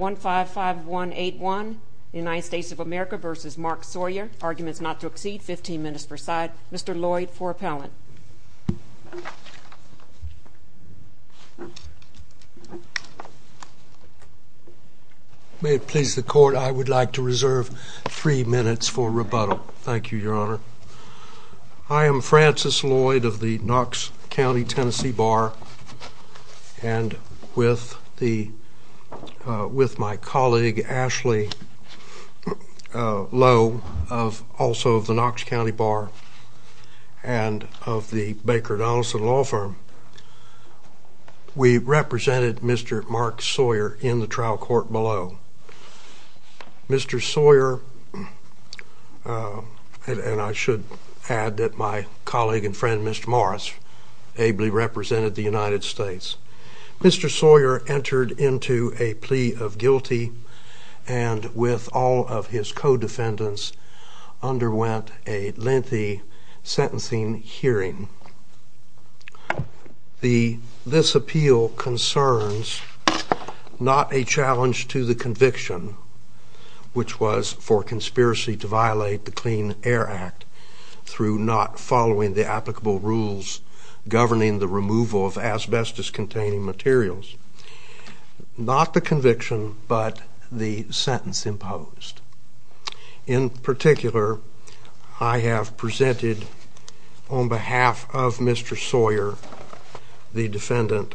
155181 United States of America v. Mark Sawyer Arguments not to exceed 15 minutes per side Mr. Lloyd for appellant May it please the court, I would like to reserve 3 minutes for rebuttal Thank you, your honor I am Francis Lloyd of the Knox County, Tennessee Bar And with my colleague Ashley Lowe, also of the Knox County Bar And of the Baker Donaldson Law Firm We represented Mr. Mark Sawyer in the trial court below Mr. Sawyer, and I should add that my colleague and friend Mr. Morris Ably represented the United States Mr. Sawyer entered into a plea of guilty And with all of his co-defendants Underwent a lengthy sentencing hearing This appeal concerns not a challenge to the conviction Which was for conspiracy to violate the Clean Air Act Through not following the applicable rules Governing the removal of asbestos containing materials Not the conviction, but the sentence imposed In particular, I have presented on behalf of Mr. Sawyer The defendant,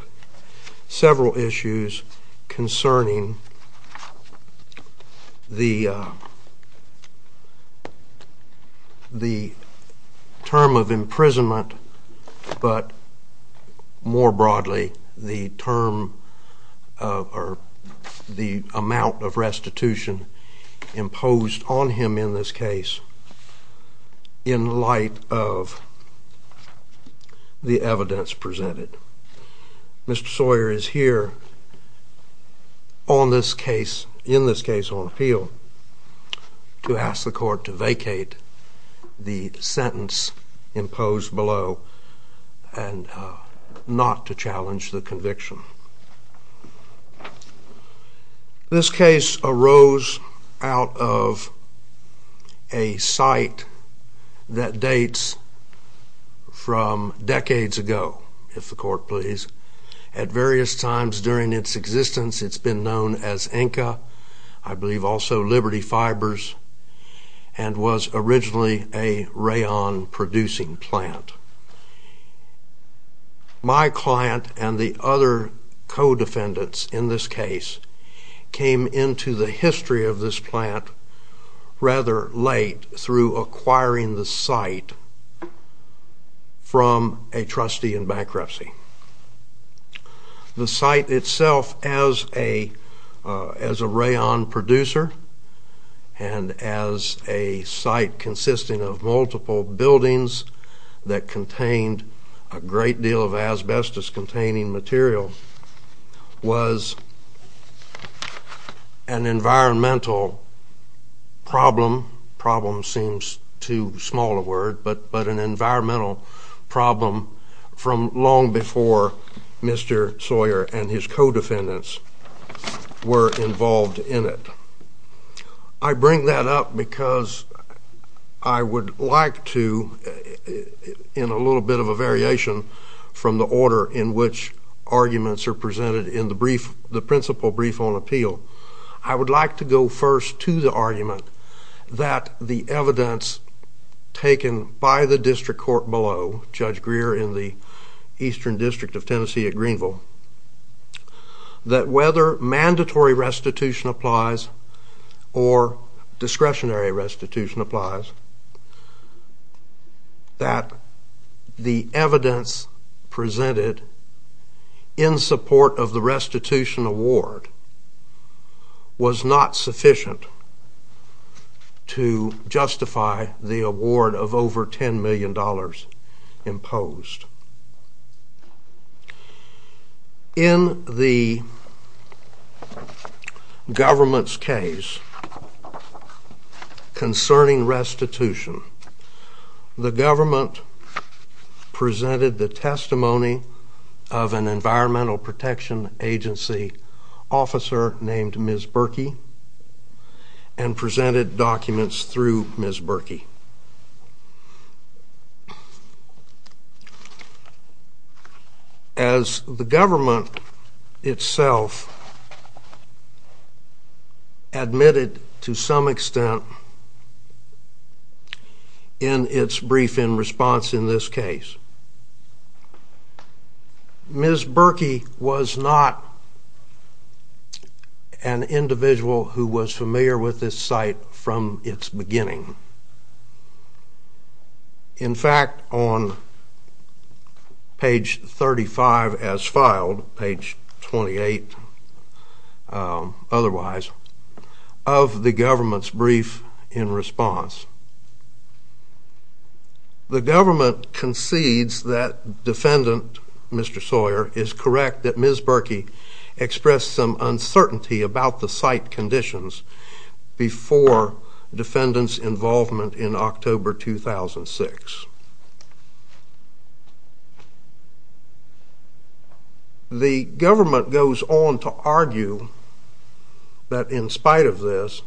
several issues concerning The term of imprisonment, but more broadly The amount of restitution imposed on him in this case In light of the evidence presented Mr. Sawyer is here in this case on appeal To ask the court to vacate the sentence imposed below And not to challenge the conviction This case arose out of a site that dates from decades ago At various times during its existence It's been known as Inca, I believe also Liberty Fibers And was originally a rayon producing plant My client and the other co-defendants in this case Came into the history of this plant rather late Through acquiring the site from a trustee in bankruptcy The site itself as a rayon producer And as a site consisting of multiple buildings That contained a great deal of asbestos containing material Was an environmental problem Problem seems too small a word But an environmental problem from long before Mr. Sawyer and his co-defendants were involved in it I bring that up because I would like to In a little bit of a variation From the order in which arguments are presented In the principle brief on appeal I would like to go first to the argument That the evidence taken by the district court below Judge Greer in the eastern district of Tennessee at Greenville That whether mandatory restitution applies Or discretionary restitution applies That the evidence presented In support of the restitution award Was not sufficient To justify the award of over ten million dollars imposed In the government's case Concerning restitution The government presented the testimony Of an environmental protection agency officer named Ms. Berkey And presented documents through Ms. Berkey As the government itself Admitted to some extent In its brief in response in this case Ms. Berkey was not An individual who was familiar with this site from its beginning In fact, on page 35 as filed Page 28 otherwise Of the government's brief in response The government concedes that defendant Mr. Sawyer Is correct that Ms. Berkey expressed some uncertainty About the site conditions Before defendant's involvement in October 2006 The government goes on to argue That in spite of this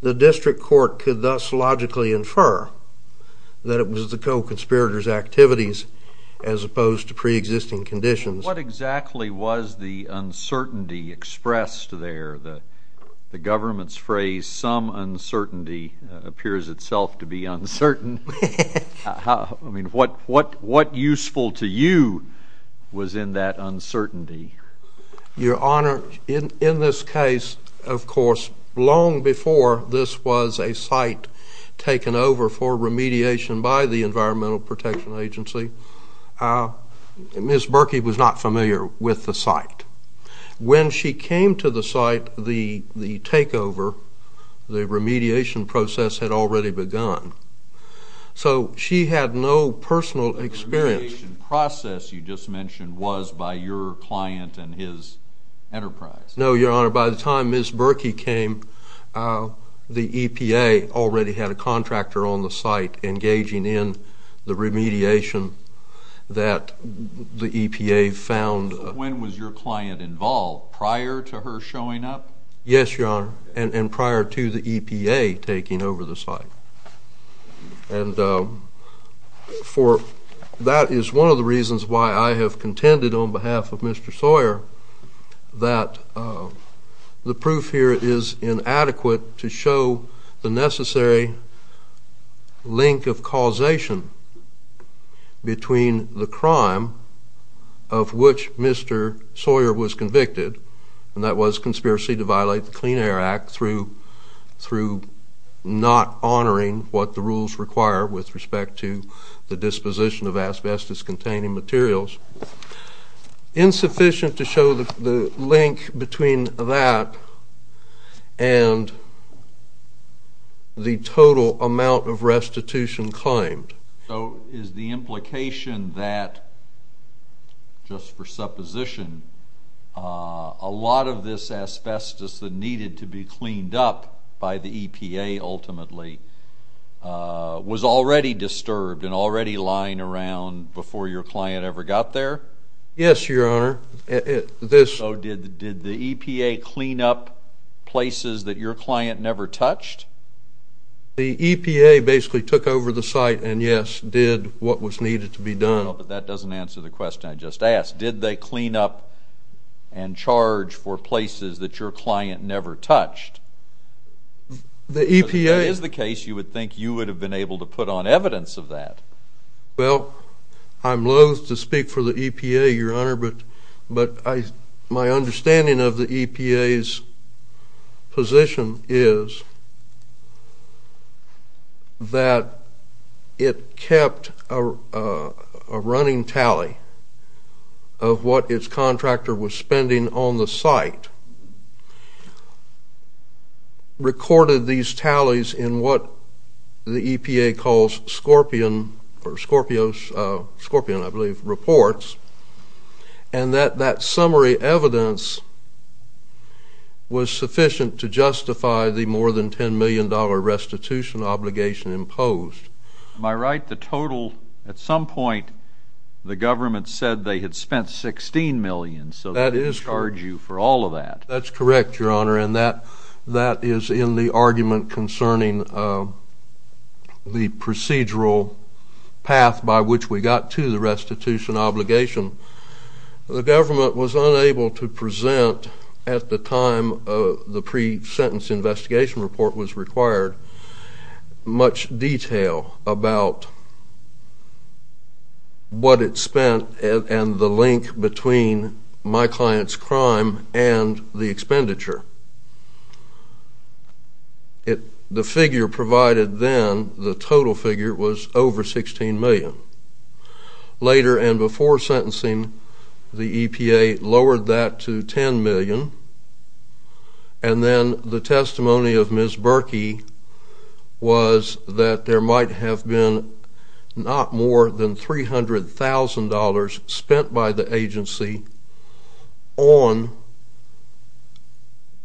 The district court could thus logically infer That it was the co-conspirators' activities As opposed to pre-existing conditions What exactly was the uncertainty expressed there? The government's phrase Appears itself to be uncertain I mean, what useful to you Was in that uncertainty? Your Honor, in this case Of course, long before this was a site Taken over for remediation by the Environmental Protection Agency Ms. Berkey was not familiar with the site When she came to the site But the takeover, the remediation process Had already begun So she had no personal experience The remediation process you just mentioned Was by your client and his enterprise No, Your Honor, by the time Ms. Berkey came The EPA already had a contractor on the site Engaging in the remediation That the EPA found When was your client involved? Prior to her showing up? Yes, Your Honor And prior to the EPA taking over the site And that is one of the reasons Why I have contended on behalf of Mr. Sawyer That the proof here is inadequate To show the necessary link of causation Between the crime of which Mr. Sawyer was convicted And that was conspiracy to violate the Clean Air Act Through not honoring what the rules require With respect to the disposition of asbestos-containing materials Insufficient to show the link between that And the total amount of restitution claimed So is the implication that Just for supposition A lot of this asbestos that needed to be cleaned up By the EPA ultimately Was already disturbed And already lying around Before your client ever got there? Yes, Your Honor So did the EPA clean up Places that your client never touched? The EPA basically took over the site And yes, did what was needed to be done But that doesn't answer the question I just asked Did they clean up And charge for places that your client never touched? If that is the case You would think you would have been able to put on evidence of that Well, I'm loath to speak for the EPA, Your Honor But my understanding of the EPA's position is That it kept a running tally Of what its contractor was spending on the site Recorded these tallies in what the EPA calls Scorpion, I believe, reports And that that summary evidence Was sufficient to justify the more than $10 million restitution obligation imposed Am I right, the total At some point The government said they had spent $16 million So they didn't charge you for all of that That's correct, Your Honor And that is in the argument concerning The procedural path by which we got to the restitution obligation The government was unable to present At the time the pre-sentence investigation report was required Much detail about What it spent and the link between My client's crime and the expenditure The figure provided then, the total figure Was over $16 million Later and before sentencing The EPA lowered that to $10 million And then the testimony of Ms. Berkey Was that there might have been Not more than $300,000 spent by the agency On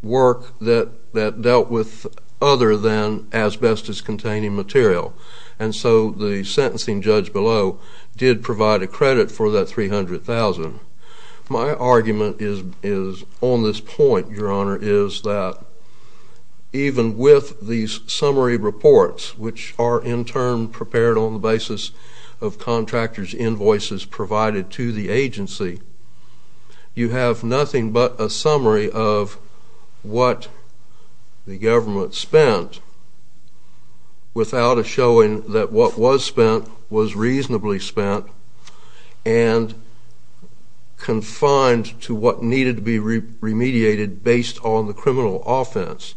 work that dealt with Other than asbestos-containing material And so the sentencing judge below Did provide a credit for that $300,000 My argument is on this point, Your Honor Is that even with these summary reports Which are in turn prepared on the basis Of contractors' invoices provided to the agency You have nothing but a summary of What the government spent Without a showing that what was spent Was reasonably spent And confined to what needed to be remediated Based on the criminal offense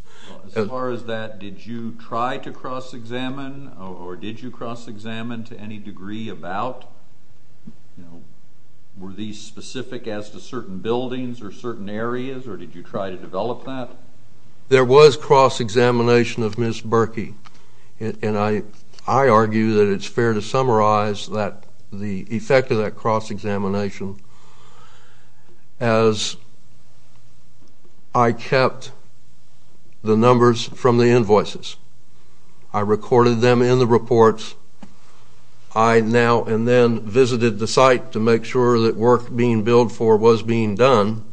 As far as that, did you try to cross-examine Or did you cross-examine to any degree about Were these specific as to certain buildings Or certain areas, or did you try to develop that? There was cross-examination of Ms. Berkey And I argue that it's fair to summarize The effect of that cross-examination As I kept the numbers from the invoices I recorded them in the reports I now and then visited the site To make sure that work being billed for Was being done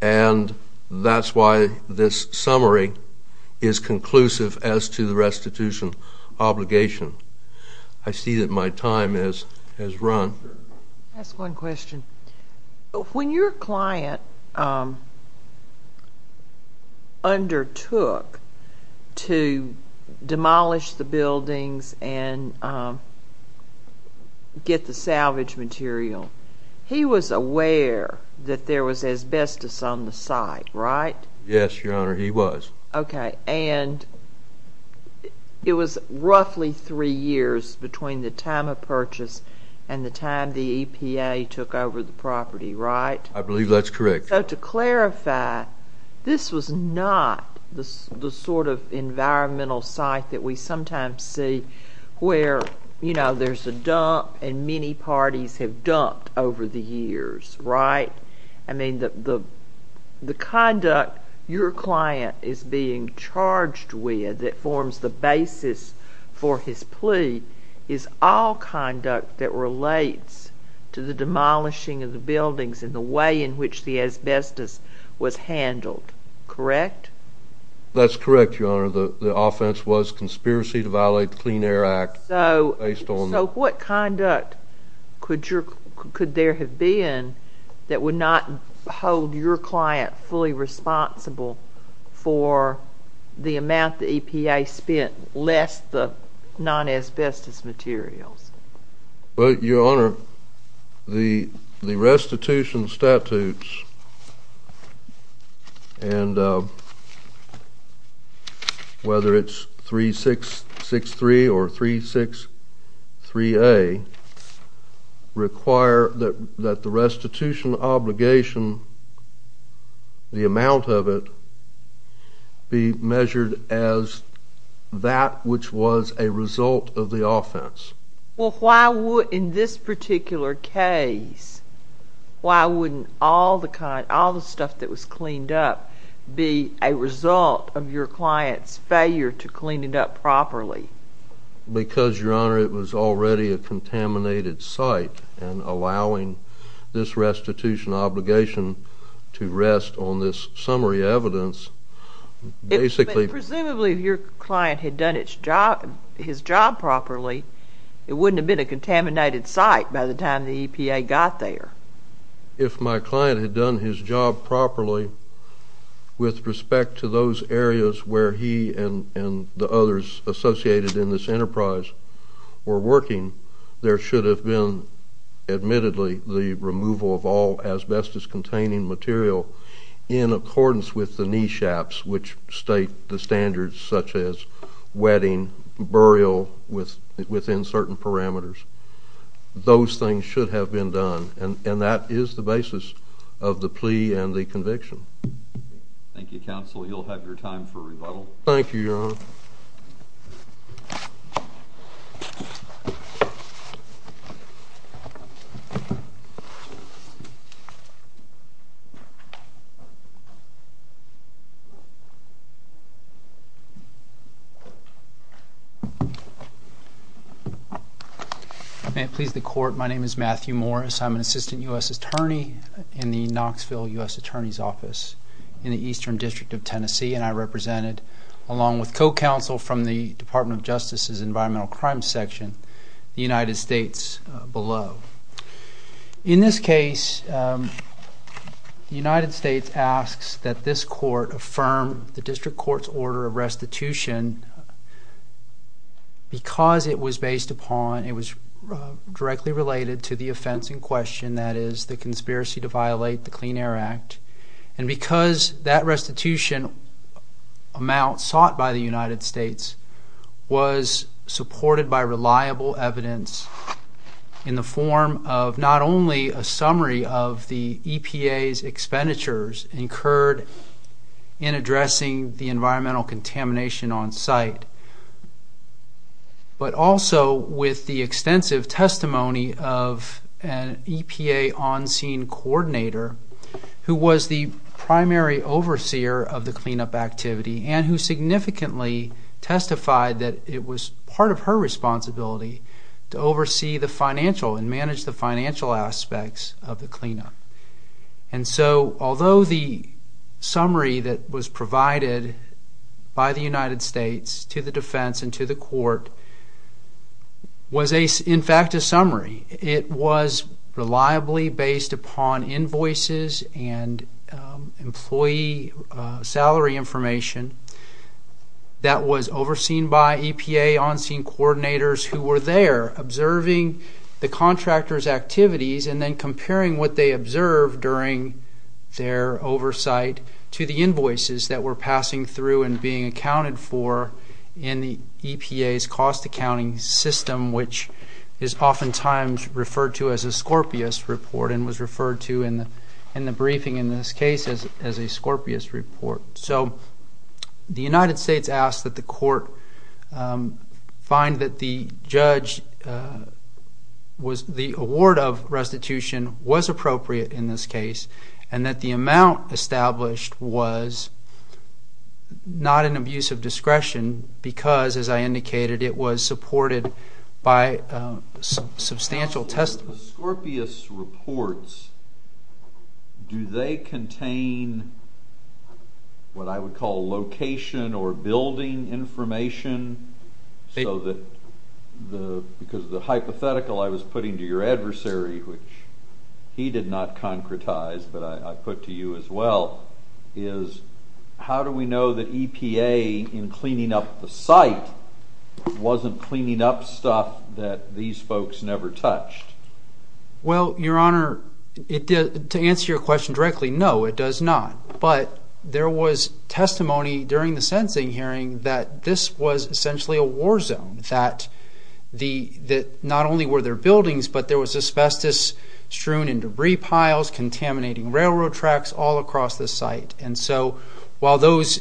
And that's why this summary is conclusive As to the restitution obligation I see that my time has run Can I ask one question? When your client undertook To demolish the buildings And get the salvage material He was aware that there was asbestos on the site, right? Yes, Your Honor, he was Okay, and it was roughly three years Between the time of purchase And the time the EPA took over the property, right? I believe that's correct So to clarify, this was not The sort of environmental site that we sometimes see Where, you know, there's a dump And many parties have dumped over the years, right? I mean, the conduct your client is being charged with That forms the basis for his plea Is all conduct that relates To the demolishing of the buildings And the way in which the asbestos was handled, correct? That's correct, Your Honor The offense was conspiracy to violate the Clean Air Act So what conduct could there have been That would not hold your client fully responsible For the amount the EPA spent Less the non-asbestos materials? Well, Your Honor, the restitution statutes And whether it's 3663 or 363A Require that the restitution obligation The amount of it Be measured as that which was a result of the offense Well, why would, in this particular case Why wouldn't all the stuff that was cleaned up Be a result of your client's failure to clean it up properly? Because, Your Honor, it was already a contaminated site And allowing this restitution obligation To rest on this summary evidence Presumably if your client had done his job properly It wouldn't have been a contaminated site By the time the EPA got there If my client had done his job properly With respect to those areas Where he and the others associated in this enterprise Were working There should have been, admittedly The removal of all asbestos-containing material In accordance with the NESHAPs Which state the standards Such as wetting, burial Within certain parameters Those things should have been done And that is the basis of the plea and the conviction Thank you, Counsel You'll have your time for rebuttal Thank you, Your Honor May it please the Court My name is Matthew Morris I'm an Assistant U.S. Attorney In the Knoxville U.S. Attorney's Office In the Eastern District of Tennessee And I represented Along with co-counsel from the Department of Justice's I would like to make a motion That the U.S. Department of Justice In this case The United States asks that this Court Affirm the District Court's order of restitution Because it was based upon It was directly related to the offense in question That is, the conspiracy to violate the Clean Air Act And because that restitution Amount sought by the United States Was supported by reliable evidence In the form of not only A summary of the EPA's expenditures Incurred in addressing The environmental contamination on site But also with the extensive testimony Of an EPA on-scene coordinator Who was the primary overseer Of the cleanup activity And who significantly testified That it was part of her responsibility To oversee the financial And manage the financial aspects of the cleanup And so although the summary That was provided by the United States To the defense and to the court Was in fact a summary It was reliably based upon Invoices and employee salary information That was overseen by EPA on-scene coordinators Who were there observing The contractors' activities And then comparing what they observed During their oversight To the invoices that were passing through And being accounted for In the EPA's cost accounting system Which is oftentimes referred to as a Scorpius report And was referred to in the briefing in this case As a Scorpius report So the United States asks that the court Find that the award of restitution Was appropriate in this case And that the amount established Was not an abuse of discretion Because as I indicated It was supported by substantial testimony The Scorpius reports Do they contain What I would call location Or building information So that the Because of the hypothetical I was putting to your adversary Which he did not concretize But I put to you as well Is how do we know that EPA In cleaning up the site Wasn't cleaning up stuff That these folks never touched Well, your honor To answer your question directly No, it does not But there was testimony During the sentencing hearing That this was essentially a war zone That not only were there buildings But there was asbestos Strewn in debris piles Contaminating railroad tracks All across the site And so while those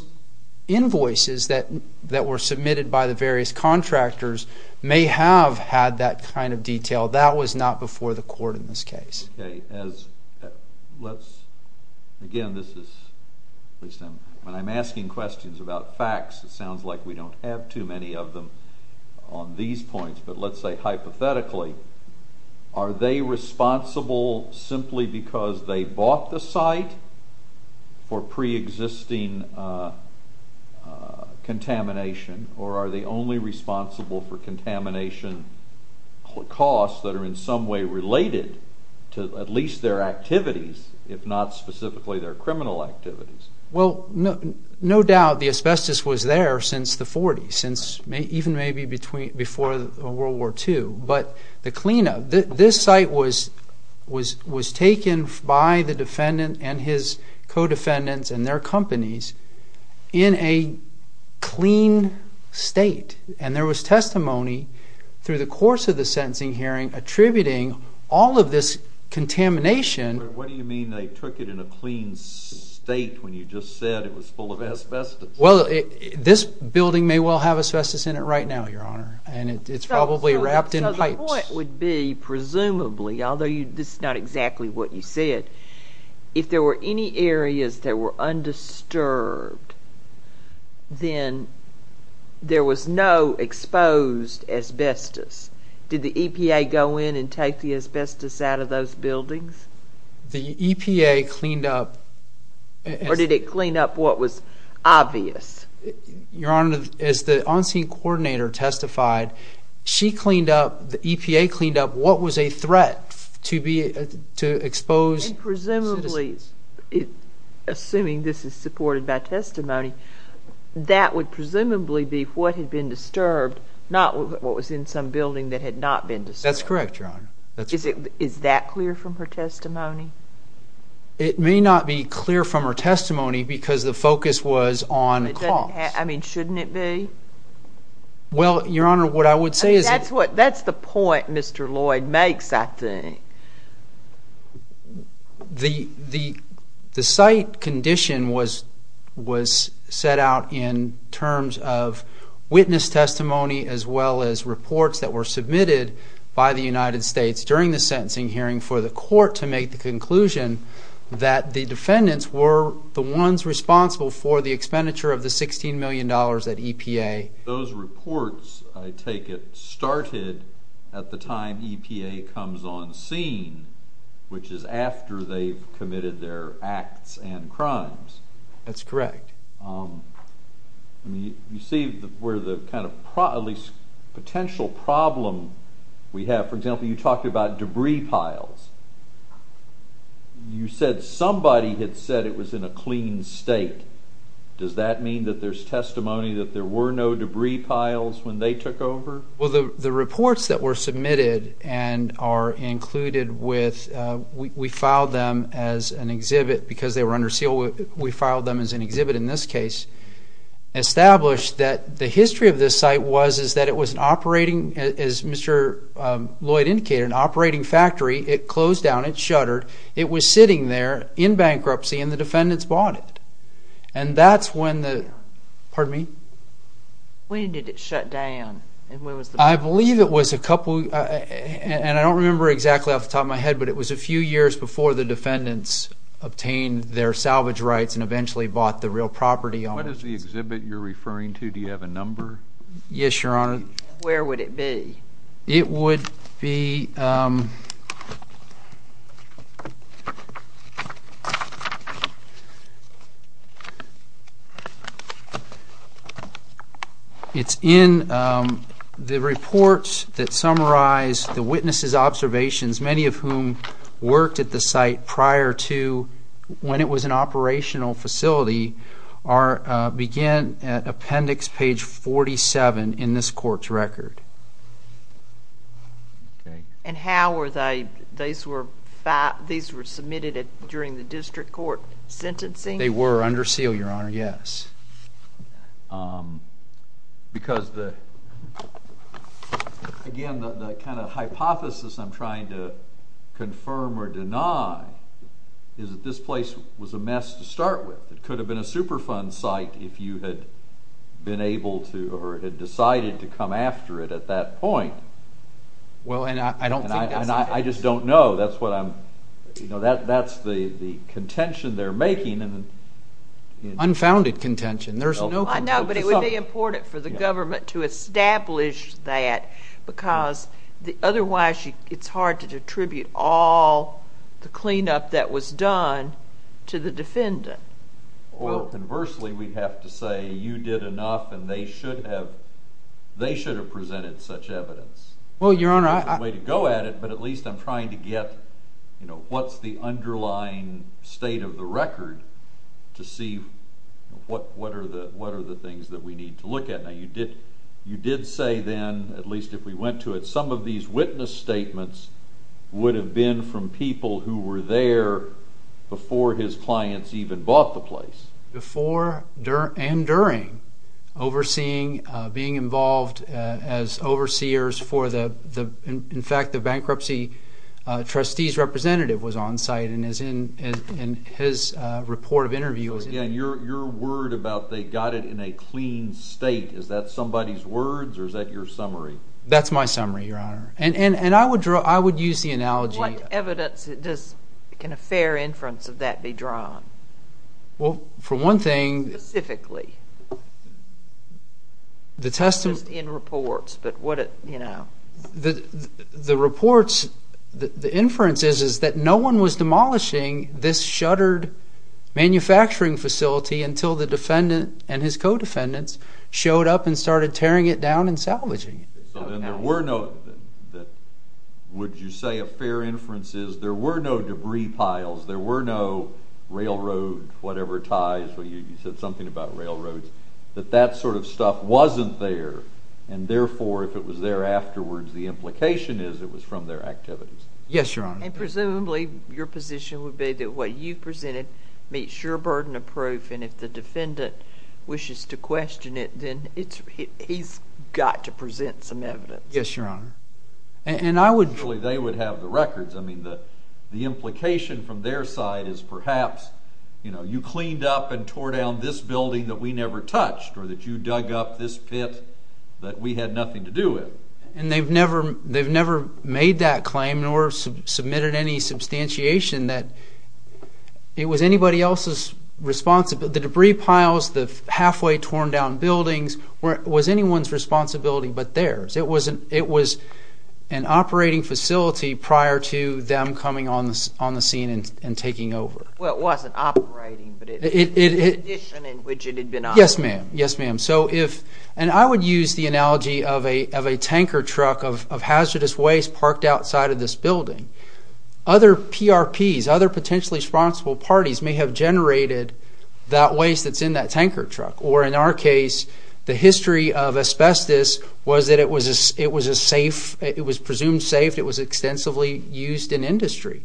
invoices That were submitted by the various contractors May have had that kind of detail That was not before the court in this case Okay, as Let's Again, this is When I'm asking questions about facts It sounds like we don't have too many of them On these points But let's say hypothetically Are they responsible Simply because they bought the site For pre-existing Contamination Or are they only responsible For contamination Costs that are in some way related To at least their activities If not specifically their criminal activities Well, no doubt The asbestos was there since the 40s Since even maybe before World War II But the cleanup This site was Was taken by the defendant And his co-defendants And their companies In a clean state And there was testimony Through the course of the sentencing hearing Attributing all of this contamination What do you mean they took it in a clean state When you just said it was full of asbestos Well, this building may well have asbestos in it Right now, your honor And it's probably wrapped in pipes So the point would be Presumably Although this is not exactly what you said If there were any areas that were undisturbed Then There was no exposed asbestos Did the EPA go in and take the asbestos out of those buildings The EPA cleaned up Or did it clean up what was obvious Your honor As the on-scene coordinator testified She cleaned up The EPA cleaned up What was a threat To be To expose Presumably Assuming this is supported by testimony That would presumably be what had been disturbed Not what was in some building that had not been disturbed That's correct, your honor Is that clear from her testimony It may not be clear from her testimony Because the focus was on I mean, shouldn't it be Well, your honor, what I would say is That's the point Mr. Lloyd makes, I think The site condition was Was set out in terms of Testimony as well as reports that were submitted By the United States during the sentencing hearing For the court to make the conclusion That the defendants were the ones responsible For the expenditure of the $16 million at EPA Those reports, I take it, started At the time EPA comes on scene Which is after they've committed their acts and crimes That's correct You see where the kind of Potential problem we have For example, you talked about debris piles You said somebody had said it was in a clean state Does that mean that there's testimony That there were no debris piles when they took over Well, the reports that were submitted And are included with We filed them as an exhibit Because they were under seal We filed them as an exhibit in this case Established that the history of this site Was that it was an operating As Mr. Lloyd indicated, an operating factory It closed down, it shuttered It was sitting there in bankruptcy And the defendants bought it And that's when the Pardon me When did it shut down I believe it was a couple And I don't remember exactly off the top of my head But it was a few years before the defendants Obtained their salvage rights And eventually bought the real property What is the exhibit you're referring to Do you have a number Yes, your honor Where would it be It would be It's in the reports That summarize the witnesses' observations Many of whom worked at the site Prior to when it was an operational facility Begin at appendix page 47 In this court's record And how were they These were submitted During the district court sentencing They were under seal, your honor, yes Because the Again, the kind of hypothesis I'm trying to confirm or deny Is that this place was a mess to start with It could have been a Superfund site If you had been able to Or had decided to come after it At that point Well, and I don't think that's I just don't know That's what I'm That's the contention they're making Unfounded contention There's no No, but it would be important For the government to establish that Because otherwise It's hard to attribute all The cleanup that was done To the defendant Well, conversely, we have to say You did enough And they should have They should have presented such evidence Well, your honor That's the way to go at it But at least I'm trying to get You know, what's the underlying State of the record To see what are the Things that we need to look at Now, you did say then At least if we went to it Some of these witness statements Would have been from people Who were there Before his clients Even bought the place Before and during Overseeing Being involved As overseers for the In fact, the bankruptcy Trustees representative Was on site And his report of interview Again, your word about They got it in a clean state Is that somebody's words Or is that your summary That's my summary, your honor And I would use the analogy What evidence Can a fair inference of that be drawn Well, for one thing Specifically The testimony Just in reports The reports The inference is That no one was demolishing This shuttered Manufacturing facility Until the defendant And his co-defendants Showed up and started Tearing it down and salvaging it So then there were no Would you say a fair inference Is there were no debris piles There were no railroad Whatever ties You said something about railroads That that sort of stuff Wasn't there And therefore if it was there Afterwards The implication is It was from their activities Yes, your honor And presumably Your position would be That what you presented Made sure burden of proof And if the defendant Wishes to question it Then he's got to present Some evidence Yes, your honor And I would They would have the records I mean the The implication from their side Is perhaps You know, you cleaned up And tore down this building That we never touched Or that you dug up this pit That we had nothing to do with And they've never They've never made that claim Nor submitted any substantiation That it was anybody else's responsibility The debris piles The halfway torn down buildings Was anyone's responsibility But theirs It was an operating facility Prior to them coming on the scene And taking over Well, it wasn't operating But it was an addition In which it had been operating Yes, ma'am Yes, ma'am So if And I would use the analogy Of a tanker truck Of hazardous waste Parked outside of this building Other PRPs Other potentially responsible parties May have generated That waste that's in that tanker truck Or in our case The history of asbestos Was that it was a safe It was presumed safe It was extensively used in industry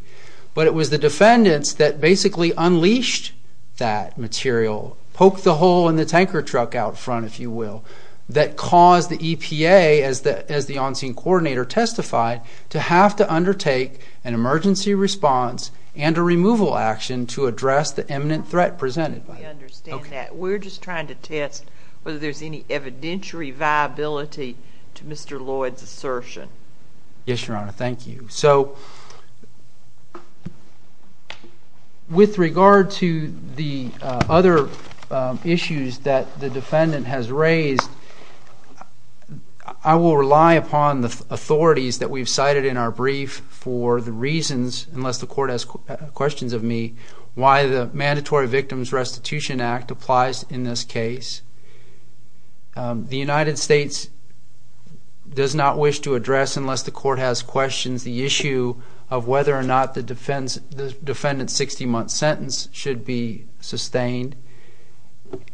But it was the defendants That basically unleashed that material Poked the hole in the tanker truck out front If you will That caused the EPA As the on-scene coordinator testified To have to undertake An emergency response And a removal action To address the imminent threat presented We understand that We're just trying to test Whether there's any evidentiary viability To Mr. Lloyd's assertion Yes, Your Honor, thank you So With regard to the other issues That the defendant has raised I will rely upon the authorities That we've cited in our brief For the reasons Unless the court has questions of me Why the Mandatory Victims Restitution Act Applies in this case The United States Does not wish to address Unless the court has questions The issue of whether or not The defendant's 60-month sentence Should be sustained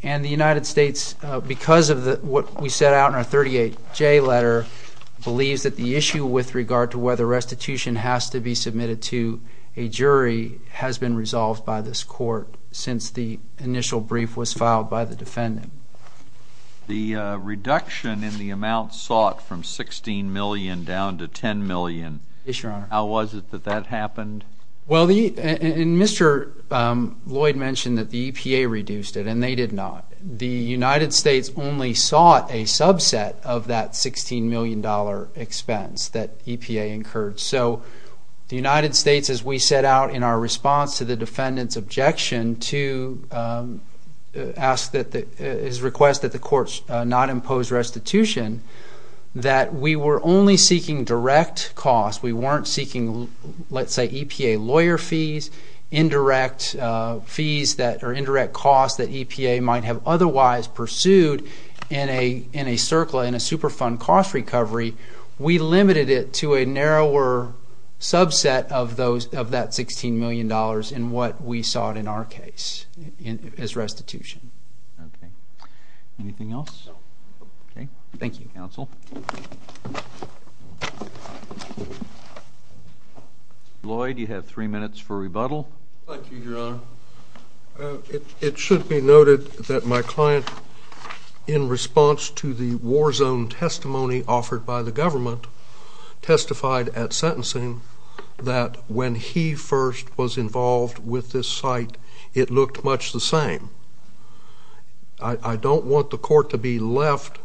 And the United States Because of what we set out In our 38J letter Believes that the issue With regard to whether restitution Has to be submitted to a jury Has been resolved by this court Since the initial brief Was filed by the defendant The reduction in the amount sought From $16 million down to $10 million Yes, Your Honor How was it that that happened? Well, Mr. Lloyd mentioned That the EPA reduced it And they did not The United States only sought A subset of that $16 million expense That EPA incurred So the United States As we set out in our response To the defendant's objection To ask that His request that the courts Not impose restitution That we were only seeking direct costs We weren't seeking Let's say EPA lawyer fees Indirect fees that Or indirect costs that EPA Might have otherwise pursued In a circle In a super fund cost recovery We limited it to a narrower subset Of that $16 million In what we sought in our case As restitution Okay Anything else? No Okay Thank you, Counsel Lloyd, you have three minutes for rebuttal Thank you, Your Honor It should be noted that my client In response to the war zone testimony Offered by the government Testified at sentencing That when he first was involved With this site It looked much the same I don't want the court to be left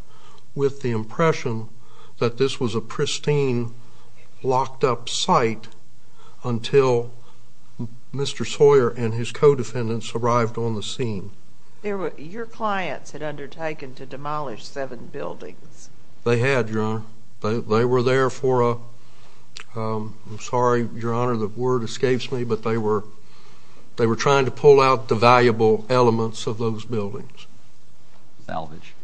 With the impression That this was a pristine Locked up site Until Mr. Sawyer And his co-defendants Arrived on the scene Your clients had undertaken To demolish seven buildings They had, Your Honor They were there for a I'm sorry, Your Honor The word escapes me But they were They were trying to pull out The valuable elements Of those buildings Salvage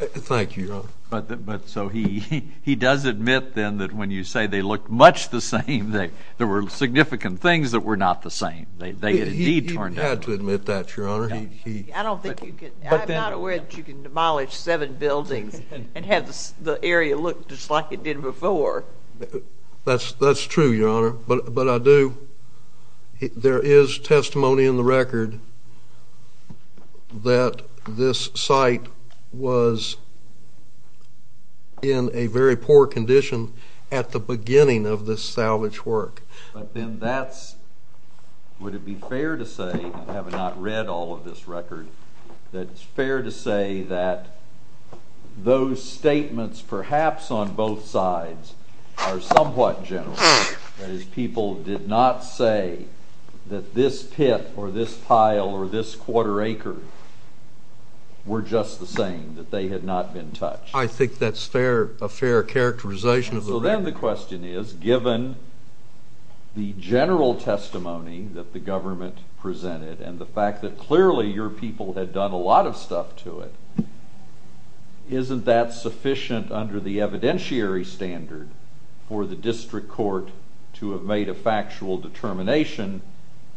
Thank you, Your Honor But so he does admit then That when you say They looked much the same There were significant things That were not the same They indeed turned out He had to admit that, Your Honor I don't think you could I'm not aware that you can Demolish seven buildings And have the area look Just like it did before That's true, Your Honor But I do There is testimony in the record That this site Was in a very poor condition At the beginning of this salvage work But then that's Would it be fair to say Having not read all of this record That it's fair to say that Those statements Perhaps on both sides Are somewhat general That is, people did not say That this pit Or this pile Or this quarter acre Were just the same That they had not been touched I think that's fair A fair characterization So then the question is Given the general testimony That the government presented And the fact that clearly Your people had done A lot of stuff to it Isn't that sufficient Under the evidentiary standard For the district court To have made a factual determination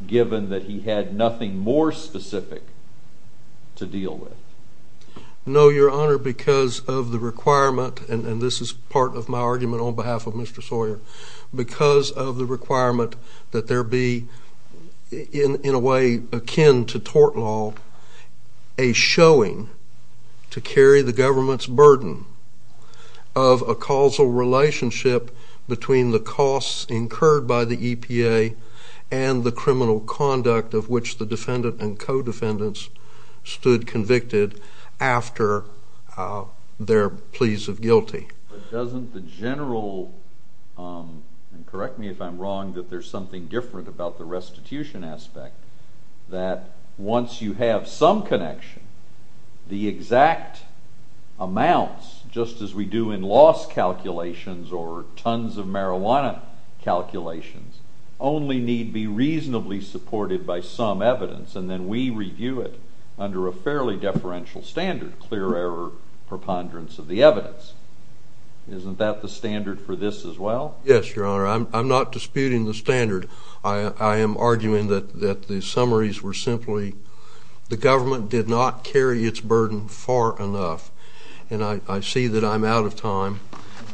Given that he had Nothing more specific To deal with No, Your Honor Because of the requirement And this is part of my argument On behalf of Mr. Sawyer Because of the requirement That there be In a way akin to tort law A showing To carry the government's burden Of a causal relationship Between the costs Incurred by the EPA And the criminal conduct Of which the defendant And co-defendants Stood convicted After their pleas of guilty But doesn't the general And correct me if I'm wrong That there's something different About the restitution aspect That once you have Some connection The exact amounts Just as we do in loss calculations Or tons of marijuana calculations Only need be reasonably supported By some evidence And then we review it Under a fairly deferential standard Clear error preponderance Of the evidence Isn't that the standard For this as well? Yes, Your Honor I'm not disputing the standard I am arguing that the summaries Were simply The government did not carry Its burden far enough And I see that I'm out of time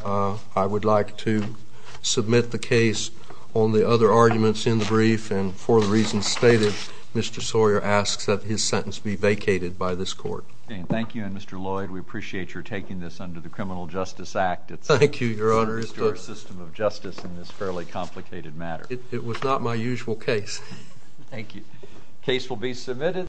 I would like to submit the case On the other arguments in the brief And for the reasons stated Mr. Sawyer asks that his sentence Be vacated by this court Thank you And, Mr. Lloyd, we appreciate Your taking this under the Criminal Justice Act Thank you, Your Honor It's the system of justice In this fairly complicated matter It was not my usual case Thank you Case will be submitted